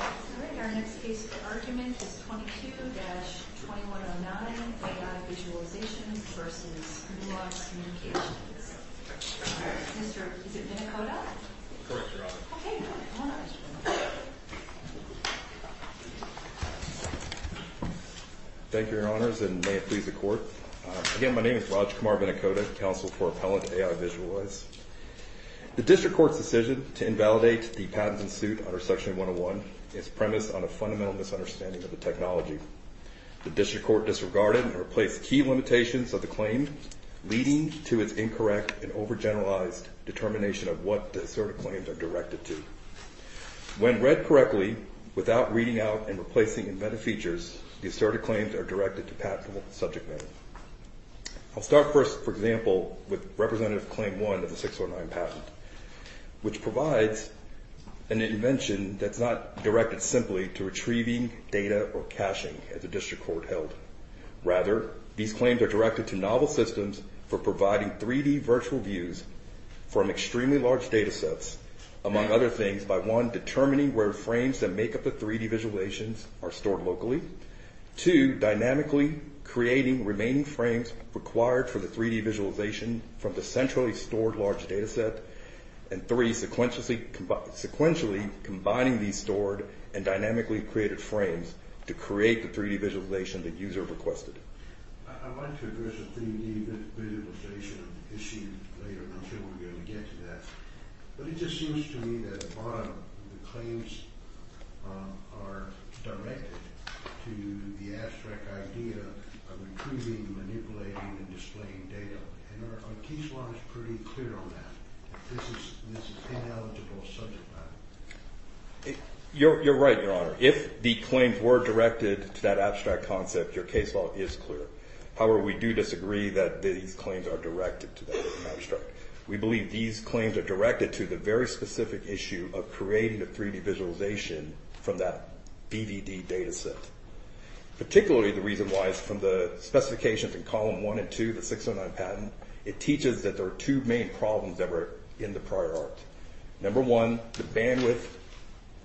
All right, our next case for argument is 22-2109, AI Visualization v. Nuance Communications. Mr. Vinicoda? Correct, Your Honor. Okay, good. Come on up, Mr. Vinicoda. Thank you, Your Honors, and may it please the Court. Again, my name is Rajkumar Vinicoda, counsel for Appellant AI Visualize. The District Court's decision to invalidate the patents in suit under Section 101 is premised on a fundamental misunderstanding of the technology. The District Court disregarded and replaced key limitations of the claim, leading to its incorrect and overgeneralized determination of what the asserted claims are directed to. When read correctly, without reading out and replacing inventive features, the asserted claims are directed to patentable subject matter. I'll start first, for example, with Representative Claim 1 of the 609 patent, which provides an invention that's not directed simply to retrieving data or caching, as the District Court held. Rather, these claims are directed to novel systems for providing 3D virtual views from extremely large datasets, among other things, by 1. determining where frames that make up the 3D visualizations are stored locally, 2. dynamically creating remaining frames required for the 3D visualization from the centrally stored large dataset, and 3. sequentially combining these stored and dynamically created frames to create the 3D visualization the user requested. I'd like to address the 3D visualization issue later, and I'm sure we're going to get to that. But it just seems to me that, bottom, the claims are directed to the abstract idea of retrieving, manipulating, and displaying data. And our case law is pretty clear on that. This is ineligible subject matter. You're right, Your Honor. If the claims were directed to that abstract concept, your case law is clear. However, we do disagree that these claims are directed to that abstract. We believe these claims are directed to the very specific issue of creating the 3D visualization from that BVD dataset. Particularly, the reason why is from the specifications in column 1 and 2 of the 609 patent. It teaches that there are two main problems that were in the prior art. Number one, the bandwidth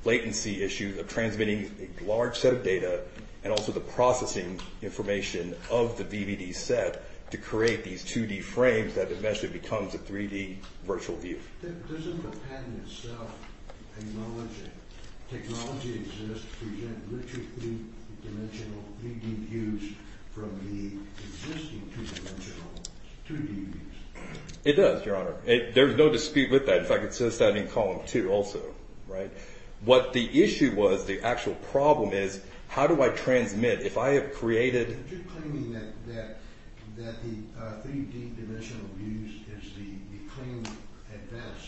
latency issue of transmitting a large set of data, and also the processing information of the BVD set to create these 2D frames that eventually becomes a 3D virtual view. Doesn't the patent itself acknowledge that technology exists to present richer 3D views from the existing 2D views? It does, Your Honor. There's no dispute with that. In fact, it says that in column 2 also. What the issue was, the actual problem is, how do I transmit? If I have created... Are you claiming that the 3D dimensional views is the claim at best?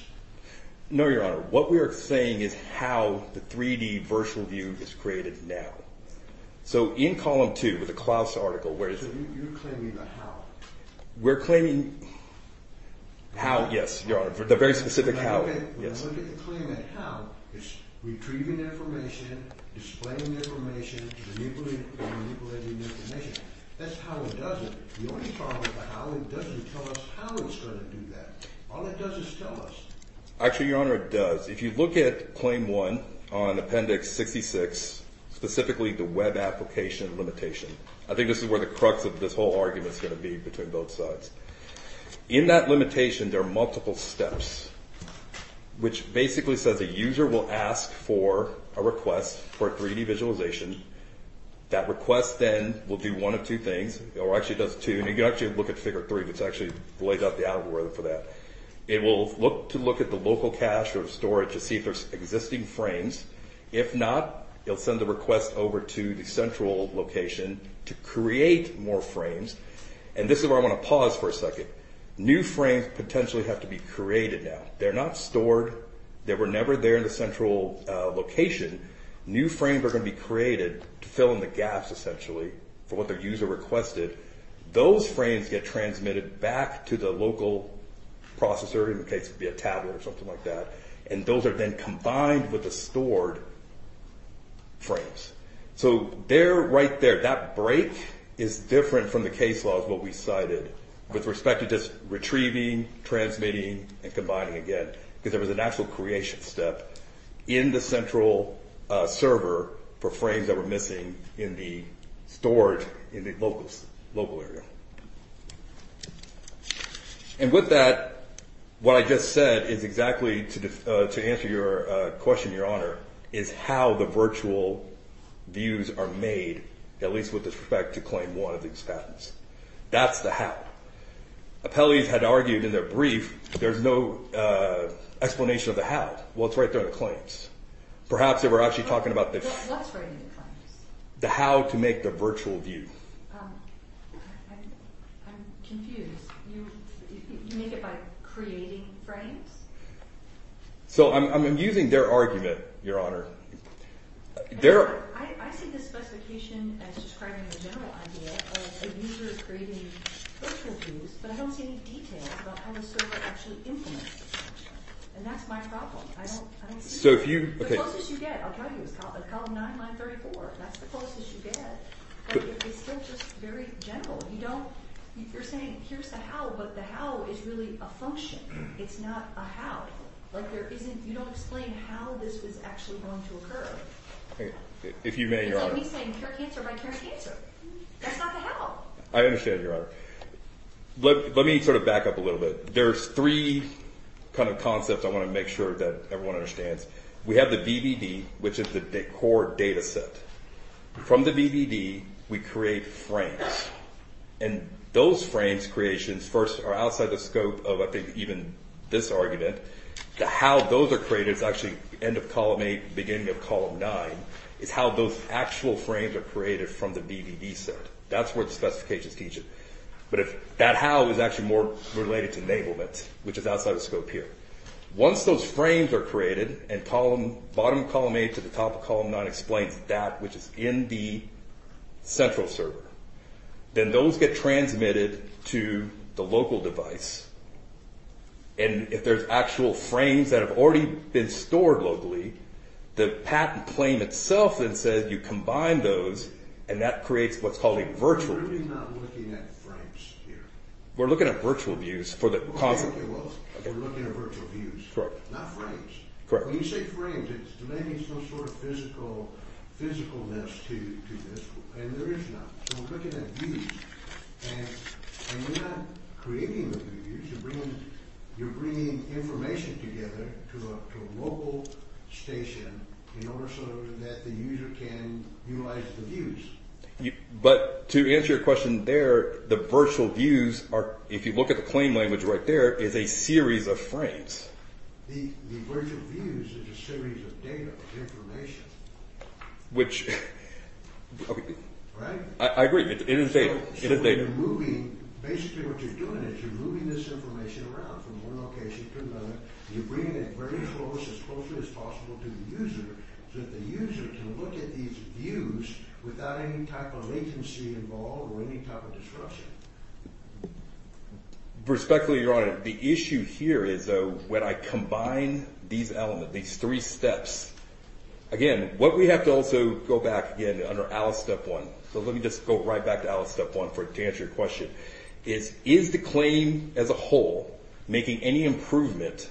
No, Your Honor. What we are saying is how the 3D virtual view is created now. So, in column 2, with the Klaus article, where is it? You're claiming the how. We're claiming how, yes, Your Honor. The very specific how. When you look at the claim at how, it's retrieving information, displaying information, and manipulating information. That's how it does it. The only problem with the how, it doesn't tell us how it's going to do that. All it does is tell us. Actually, Your Honor, it does. If you look at claim 1 on appendix 66, specifically the web application limitation, I think this is where the crux of this whole argument is going to be, between both sides. In that limitation, there are multiple steps, which basically says a user will ask for a request for a 3D visualization. That request then will do one of two things, or actually does two. You can actually look at figure 3, which actually lays out the algorithm for that. It will look to look at the local cache or storage to see if there's existing frames. If not, it will send the request over to the central location to create more frames. This is where I want to pause for a second. New frames potentially have to be created now. They're not stored. They were never there in the central location. New frames are going to be created to fill in the gaps, essentially, for what the user requested. Those frames get transmitted back to the local processor, in this case it would be a tablet or something like that. Those are then combined with the stored frames. There, right there, that break is different from the case laws, what we cited, with respect to just retrieving, transmitting, and combining again, because there was a natural creation step in the central server for frames that were missing in the stored, in the local area. And with that, what I just said is exactly, to answer your question, Your Honor, is how the virtual views are made, at least with respect to claim 1 of these patents. That's the how. Appellees had argued in their brief, there's no explanation of the how. Well, it's right there in the claims. Perhaps they were actually talking about the... What's right in the claims? The how to make the virtual view. I'm confused. You make it by creating frames? So I'm using their argument, Your Honor. I see the specification as describing the general idea of a user creating virtual views, but I don't see any details about how the server actually implements the function. And that's my problem. The closest you get, I'll tell you, is column 9, line 34. That's the closest you get. But it's still just very general. You don't... You're saying here's the how, but the how is really a function. It's not a how. Like there isn't... You don't explain how this was actually going to occur. If you may, Your Honor. It's like me saying care cancer by care cancer. That's not the how. I understand, Your Honor. Let me sort of back up a little bit. There's three kind of concepts I want to make sure that everyone understands. We have the VBD, which is the core data set. From the VBD, we create frames. And those frames creations first are outside the scope of, I think, even this argument. The how those are created is actually end of column 8, beginning of column 9, is how those actual frames are created from the VBD set. That's where the specifications teach it. But that how is actually more related to enablement, which is outside the scope here. Once those frames are created and bottom of column 8 to the top of column 9 explains that, which is in the central server, then those get transmitted to the local device. And if there's actual frames that have already been stored locally, the patent claim itself then says you combine those, and that creates what's called a virtual view. We're really not looking at frames here. We're looking at virtual views for the concept. Okay, well, we're looking at virtual views. Correct. Not frames. Correct. When you say frames, it's delaying some sort of physicalness to this. And there is none. So we're looking at views. And you're not creating the views. You're bringing information together to a local station in order so that the user can utilize the views. But to answer your question there, the virtual views are, if you look at the claim language right there, is a series of frames. The virtual views is a series of data, of information. Which, okay. Right? I agree. It is data. It is data. So you're moving, basically what you're doing is you're moving this information around from one location to another. You're bringing it very close, as closely as possible to the user, so that the user can look at these views without any type of latency involved or any type of disruption. Respectfully, Your Honor, the issue here is when I combine these elements, these three steps. Again, what we have to also go back, again, under ALICE Step 1. So let me just go right back to ALICE Step 1 to answer your question. Is the claim as a whole making any improvement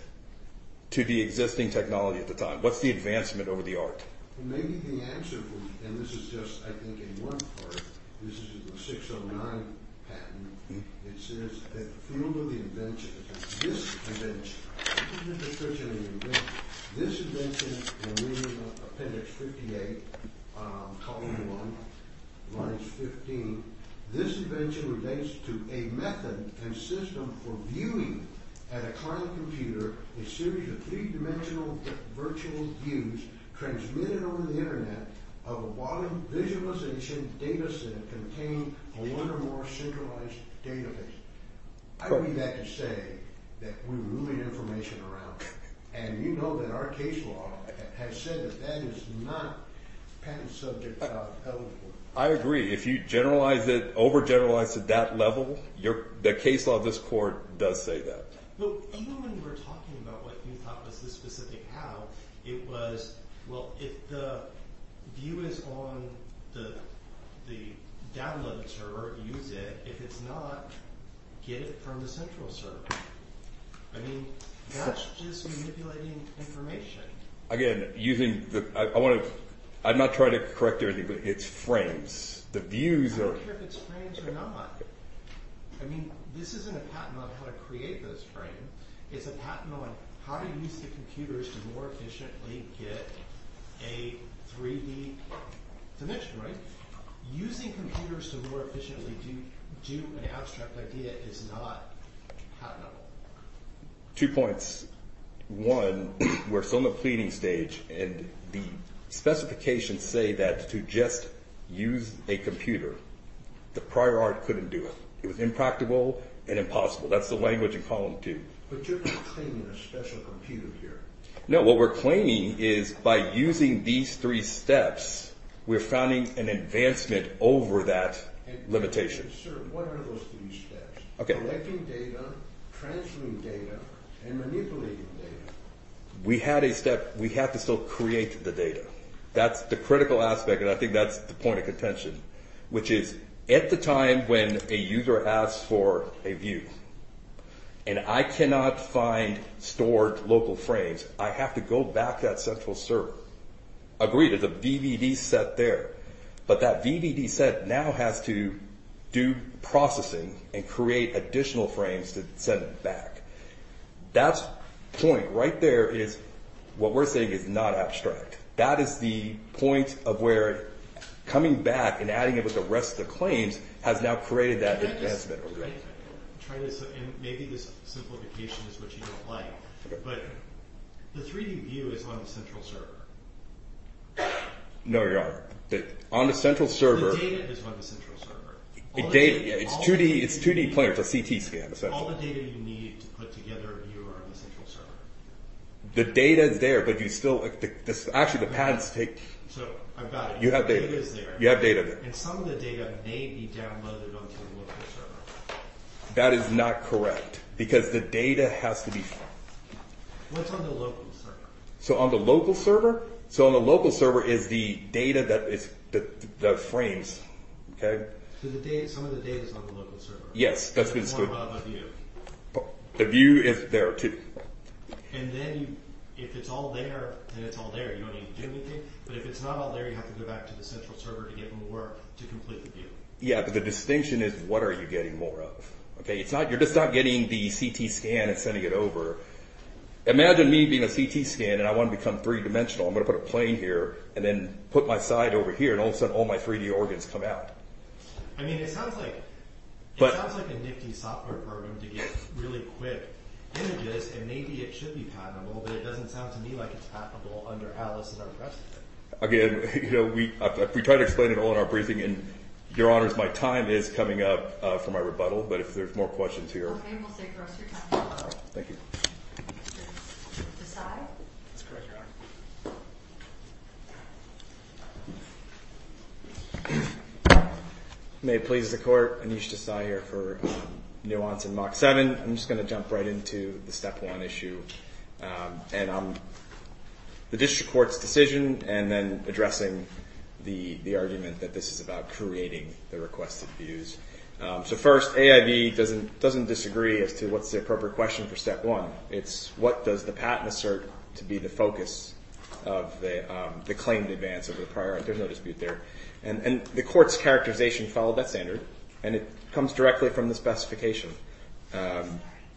to the existing technology at the time? What's the advancement over the art? Maybe the answer, and this is just, I think, in one part. This is a 609 patent. It says that the field of the invention, this invention, this invention, and we're in Appendix 58, column 1, lines 15. This invention relates to a method and system for viewing at a client computer a series of three-dimensional virtual views transmitted over the Internet of a volume visualization data set contained in one or more centralized databases. I believe that to say that we're moving information around. And you know that our case law has said that that is not patent subject to ALICE Court. I agree. If you generalize it, over-generalize it to that level, the case law of this court does say that. Well, even when you were talking about what you thought was the specific how, it was, well, if the view is on the download server, use it. If it's not, get it from the central server. I mean, that's just manipulating information. Again, using the – I want to – I'm not trying to correct everything, but it's frames. The views are – I don't care if it's frames or not. I mean, this isn't a patent on how to create those frames. It's a patent on how to use the computers to more efficiently get a 3D dimension, right? Using computers to more efficiently do an abstract idea is not patentable. Two points. One, we're still in the pleading stage, and the specifications say that to just use a computer, the prior art couldn't do it. It was impractical and impossible. That's the language in column two. But you're not claiming a special computer here. No, what we're claiming is by using these three steps, we're finding an advancement over that limitation. Sir, what are those three steps? Okay. Collecting data, transferring data, and manipulating data. We had a step. We have to still create the data. That's the critical aspect, and I think that's the point of contention, which is at the time when a user asks for a view and I cannot find stored local frames, I have to go back to that central server, agree to the VVD set there. But that VVD set now has to do processing and create additional frames to send back. That point right there is what we're saying is not abstract. That is the point of where coming back and adding it with the rest of the claims has now created that advancement. Maybe this simplification is what you don't like, but the 3D view is on the central server. No, Your Honor. The data is on the central server. It's 2D planar. It's a CT scan. All the data you need to put together a view are on the central server. The data is there, but you still... Actually, the patents take... So, I've got it. You have data. The data is there. You have data there. And some of the data may be downloaded onto the local server. That is not correct, because the data has to be... What's on the local server? So, on the local server? So, on the local server is the data that frames, okay? So, some of the data is on the local server? Yes, that's what it's doing. More about the view. The view is there, too. And then, if it's all there, then it's all there. You don't need to do anything. But if it's not all there, you have to go back to the central server to get more to complete the view. Yeah, but the distinction is what are you getting more of, okay? You're just not getting the CT scan and sending it over. Imagine me being a CT scan, and I want to become three-dimensional. I'm going to put a plane here and then put my side over here, and all of a sudden, all my 3D organs come out. I mean, it sounds like a nifty software program to get really quick images, and maybe it should be patentable, but it doesn't sound to me like it's patentable under Atlas and our precedent. Again, you know, we try to explain it all in our briefing, and, Your Honors, my time is coming up for my rebuttal. But if there's more questions here... Okay, we'll take the rest of your time. Thank you. Desai? That's correct, Your Honor. May it please the Court, Anish Desai here for Nuance and Mach 7. I'm just going to jump right into the Step 1 issue and the district court's decision and then addressing the argument that this is about creating the requested views. So first, AIB doesn't disagree as to what's the appropriate question for Step 1. It's what does the patent assert to be the focus of the claimed advance of the prior? There's no dispute there. And the Court's characterization followed that standard, and it comes directly from the specification.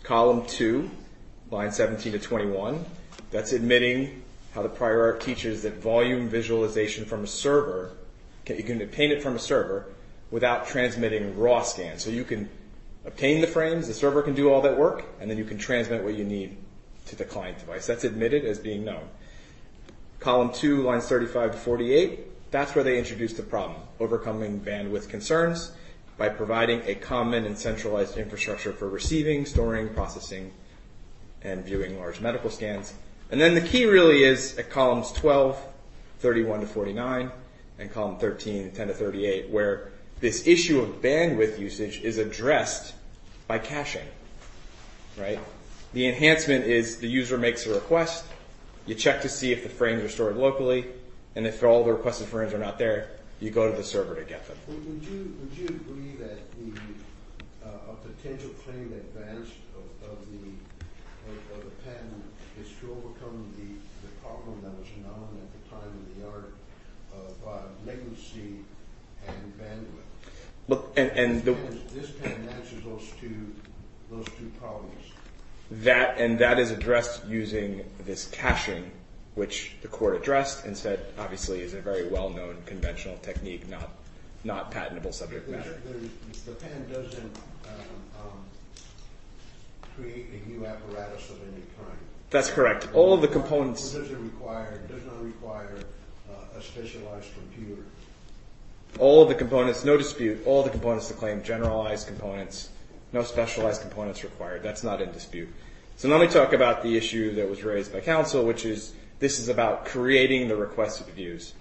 Column 2, lines 17 to 21, that's admitting how the prior teaches that volume visualization from a server, you can obtain it from a server without transmitting raw scans. So you can obtain the frames, the server can do all that work, and then you can transmit what you need to the client device. That's admitted as being known. Column 2, lines 35 to 48, that's where they introduce the problem, overcoming bandwidth concerns by providing a common and centralized infrastructure for receiving, storing, processing, and viewing large medical scans. And then the key really is at columns 12, 31 to 49, and column 13, 10 to 38, where this issue of bandwidth usage is addressed by caching. The enhancement is the user makes a request, you check to see if the frames are stored locally, and if all the requested frames are not there, you go to the server to get them. Would you agree that a potential claimed advance of the patent is to overcome the problem that was known at the time in the art of latency and bandwidth? This pen answers those two problems. And that is addressed using this caching, which the court addressed and said obviously is a very well-known conventional technique, not patentable subject matter. The pen doesn't create a new apparatus of any kind. That's correct. All of the components... It doesn't require a specialized computer. All of the components, no dispute, all the components to claim, generalized components, no specialized components required. That's not in dispute. So now let me talk about the issue that was raised by counsel, which is this is about creating the requested views.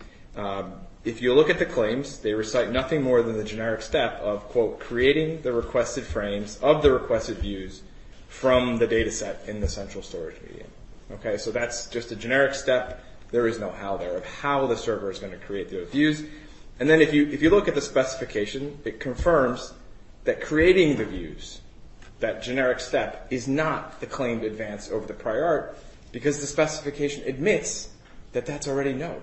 If you look at the claims, they recite nothing more than the generic step of creating the requested frames of the requested views from the data set in the central storage medium. So that's just a generic step. There is no how there of how the server is going to create the views. And then if you look at the specification, it confirms that creating the views, that generic step is not the claimed advance over the prior art because the specification admits that that's already known.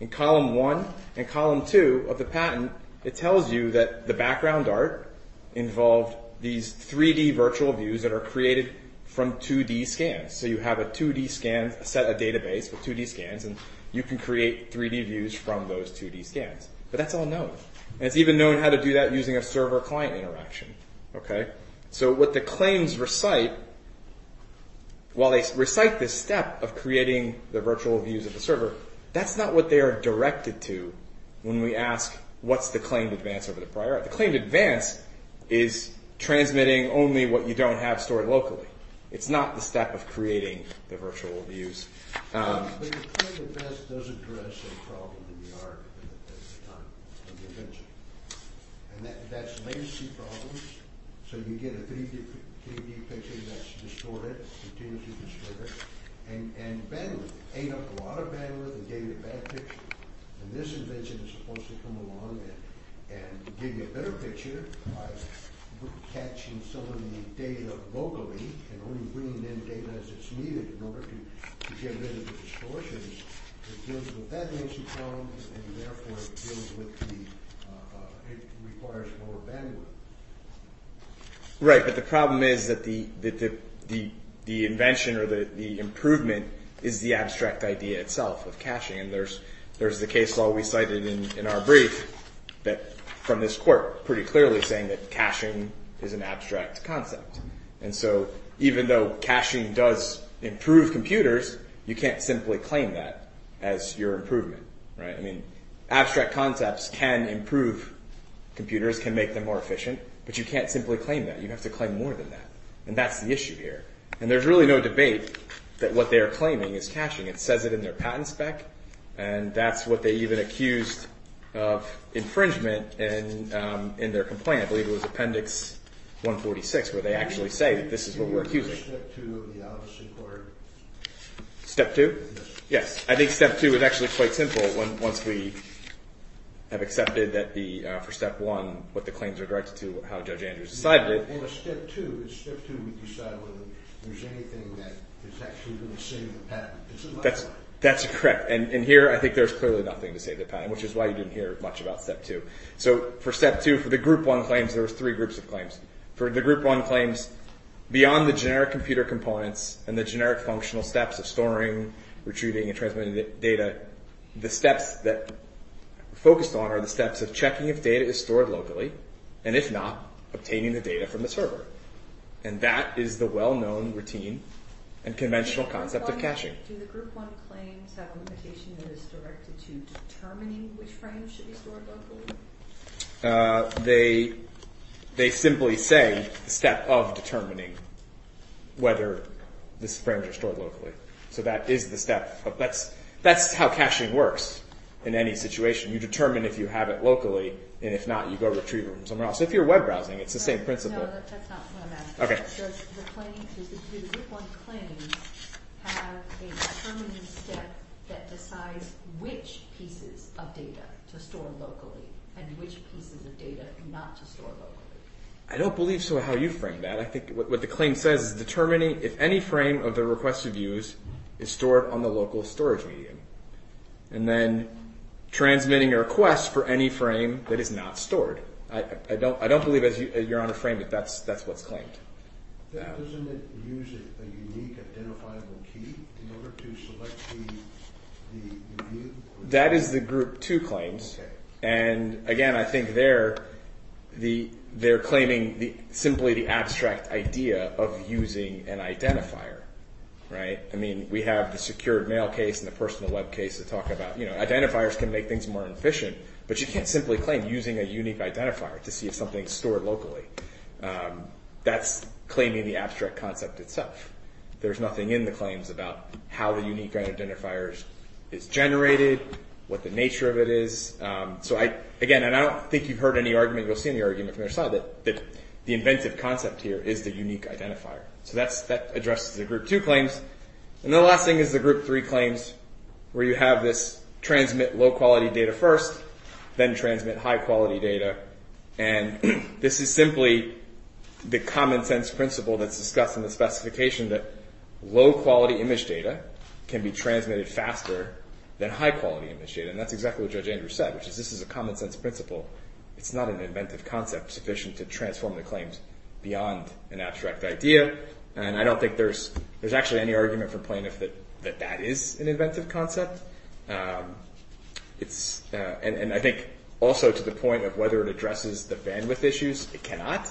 In column one and column two of the patent, it tells you that the background art involved these 3D virtual views that are created from 2D scans. So you have a 2D scan, a set of database with 2D scans, and you can create 3D views from those 2D scans. But that's all known. And it's even known how to do that using a server-client interaction. So what the claims recite, while they recite this step of creating the virtual views of the server, that's not what they are directed to when we ask what's the claimed advance over the prior art. The claimed advance is transmitting only what you don't have stored locally. It's not the step of creating the virtual views. But the claimed advance does address a problem in the art at the time of the invention. And that's latency problems. So you get a 3D picture that's distorted, continues to distort it, and bandwidth. It ate up a lot of bandwidth and gave you a bad picture. And this invention is supposed to come along and give you a better picture by catching some of the data locally and only bringing in data as it's needed in order to get rid of the distortions. It deals with that latency problem, and therefore it deals with the it requires more bandwidth. Right, but the problem is that the invention or the improvement is the abstract idea itself of caching. And there's the case law we cited in our brief that, from this court, pretty clearly saying that caching is an abstract concept. And so even though caching does improve computers, you can't simply claim that as your improvement. Abstract concepts can improve computers, can make them more efficient, but you can't simply claim that. You have to claim more than that. And that's the issue here. And there's really no debate that what they are claiming is caching. It says it in their patent spec, and that's what they even accused of infringement in their complaint. I believe it was Appendix 146 where they actually say that this is what we're accusing. Step 2? Yes. I think Step 2 is actually quite simple once we have accepted for Step 1 what the claims are directed to, how Judge Andrews decided it. That's correct. And here I think there's clearly nothing to say in the patent, which is why you didn't hear much about Step 2. So for Step 2, for the Group 1 claims, there were three groups of claims. For the Group 1 claims, beyond the generic computer components and the generic functional steps of storing, retrieving, and transmitting data, the steps that we're focused on are the steps of checking if data is stored locally, and if not, obtaining the data from the server. And that is the well-known routine and conventional concept of caching. Do the Group 1 claims have a limitation that is directed to determining which frames should be stored locally? They simply say the step of determining whether these frames are stored locally. So that is the step. That's how caching works in any situation. You determine if you have it locally, and if not, you go retrieve it from somewhere else. If you're web browsing, it's the same principle. No, that's not what I'm asking. Does the claim to the Group 1 claims have a determining step that decides which pieces of data to store locally, and which pieces of data not to store locally? I don't believe so how you frame that. I think what the claim says is determining if any frame of the requested views is stored on the local storage medium, and then transmitting a request for any frame that is not stored. I don't believe as you're on a frame that that's what's claimed. Doesn't it use a unique identifiable key in order to select the view? That is the Group 2 claims. And again, I think they're claiming simply the abstract idea of using an identifier. I mean, we have the secured mail case and the personal web case to talk about. Identifiers can make things more efficient, but you can't simply claim using a unique identifier to see if something is stored locally. That's claiming the abstract concept itself. There's nothing in the claims about how the unique identifier is generated, what the nature of it is. Again, I don't think you've heard any argument, you'll see in the argument from the other side, that the inventive concept here is the unique identifier. That addresses the Group 2 claims. And the last thing is the Group 3 claims, where you have this transmit low-quality data first, then transmit high-quality data. And this is simply the common-sense principle that's discussed in the specification that low-quality image data can be transmitted faster than high-quality image data. And that's exactly what Judge Andrews said, which is this is a common-sense principle. It's not an inventive concept sufficient to transform the claims beyond an abstract idea. And I don't think there's actually any argument for plaintiff that that is an inventive concept. And I think also to the point of whether it addresses the bandwidth issues, it cannot,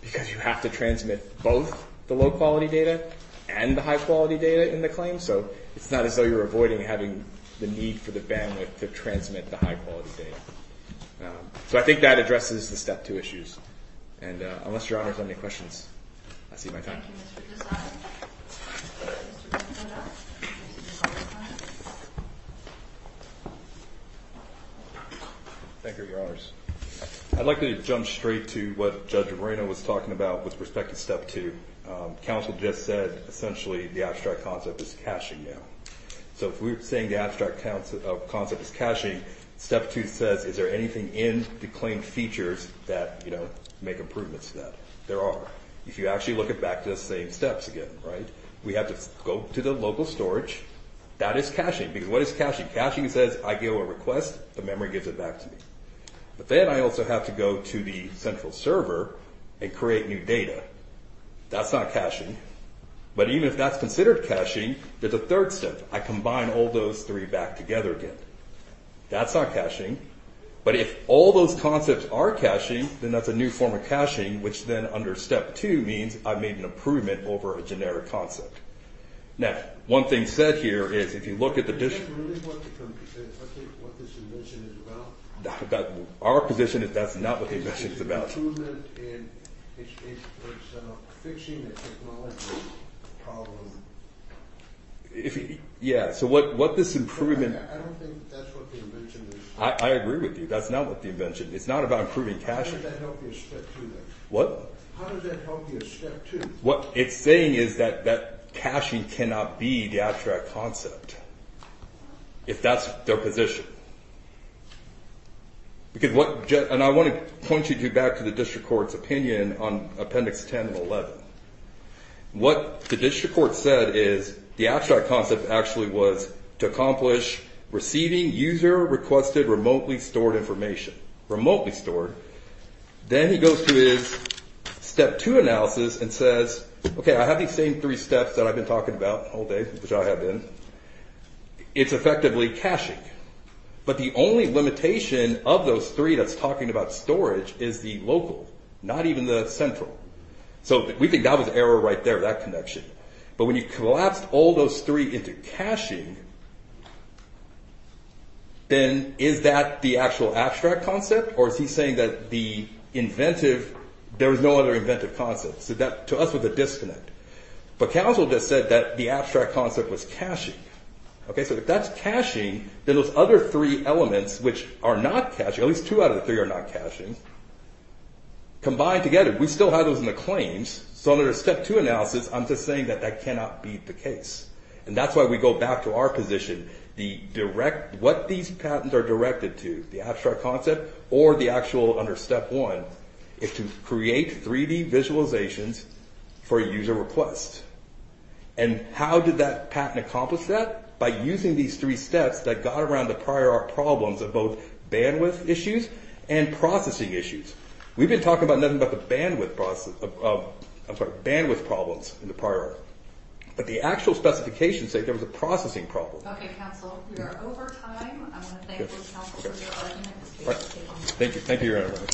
because you have to transmit both the low-quality data and the high-quality data in the claim. So it's not as though you're avoiding having the need for the bandwidth to transmit the high-quality data. So I think that addresses the Step 2 issues. And unless Your Honors have any questions, I see my time. Thank you, Mr. Desai. Thank you, Your Honors. I'd like to jump straight to what Judge Moreno was talking about with respect to Step 2. Counsel just said essentially the abstract concept is caching now. So if we're saying the abstract concept is caching, Step 2 says, is there anything in the claimed features that make improvements to that? There are. If you actually look back to the same steps again, we have to go to the local storage. That is caching, because what is caching? Caching says I give a request, the memory gives it back to me. But then I also have to go to the central server and create new data. That's not caching. But even if that's considered caching, there's a third step. I combine all those three back together again. That's not caching. But if all those concepts are caching, then that's a new form of caching, which then under Step 2 means I've made an improvement over a generic concept. Now, one thing said here is if you look at the… Our position is that's not what the invention is about. Yeah, so what this improvement… I agree with you. That's not what the invention is. It's not about improving caching. What? What it's saying is that caching cannot be the abstract concept, if that's their position. And I want to point you back to the district court's opinion on Appendix 10 and 11. What the district court said is the abstract concept actually was to accomplish receiving user-requested remotely stored information. Remotely stored. Then he goes to his Step 2 analysis and says, okay, I have these same three steps that I've been talking about all day, which I have been. It's effectively caching. But the only limitation of those three that's talking about storage is the local, not even the central. So we think that was error right there, that connection. But when you collapsed all those three into caching, then is that the actual abstract concept? Or is he saying that the inventive… There is no other inventive concept. So that, to us, was a disconnect. But Council just said that the abstract concept was caching. Okay, so if that's caching, then those other three elements, which are not caching, at least two out of the three are not caching, combined together, we still have those in the claims. So under Step 2 analysis, I'm just saying that that cannot be the case. And that's why we go back to our position. What these patents are directed to, the abstract concept, or the actual under Step 1, is to create 3D visualizations for user requests. And how did that patent accomplish that? By using these three steps that got around the prior art problems of both bandwidth issues and processing issues. We've been talking about nothing but the bandwidth process… I'm sorry, bandwidth problems in the prior art. But the actual specifications say there was a processing problem. Okay, Council, we are over time. I want to thank you, Council, for your time. Thank you. Thank you, Your Honor.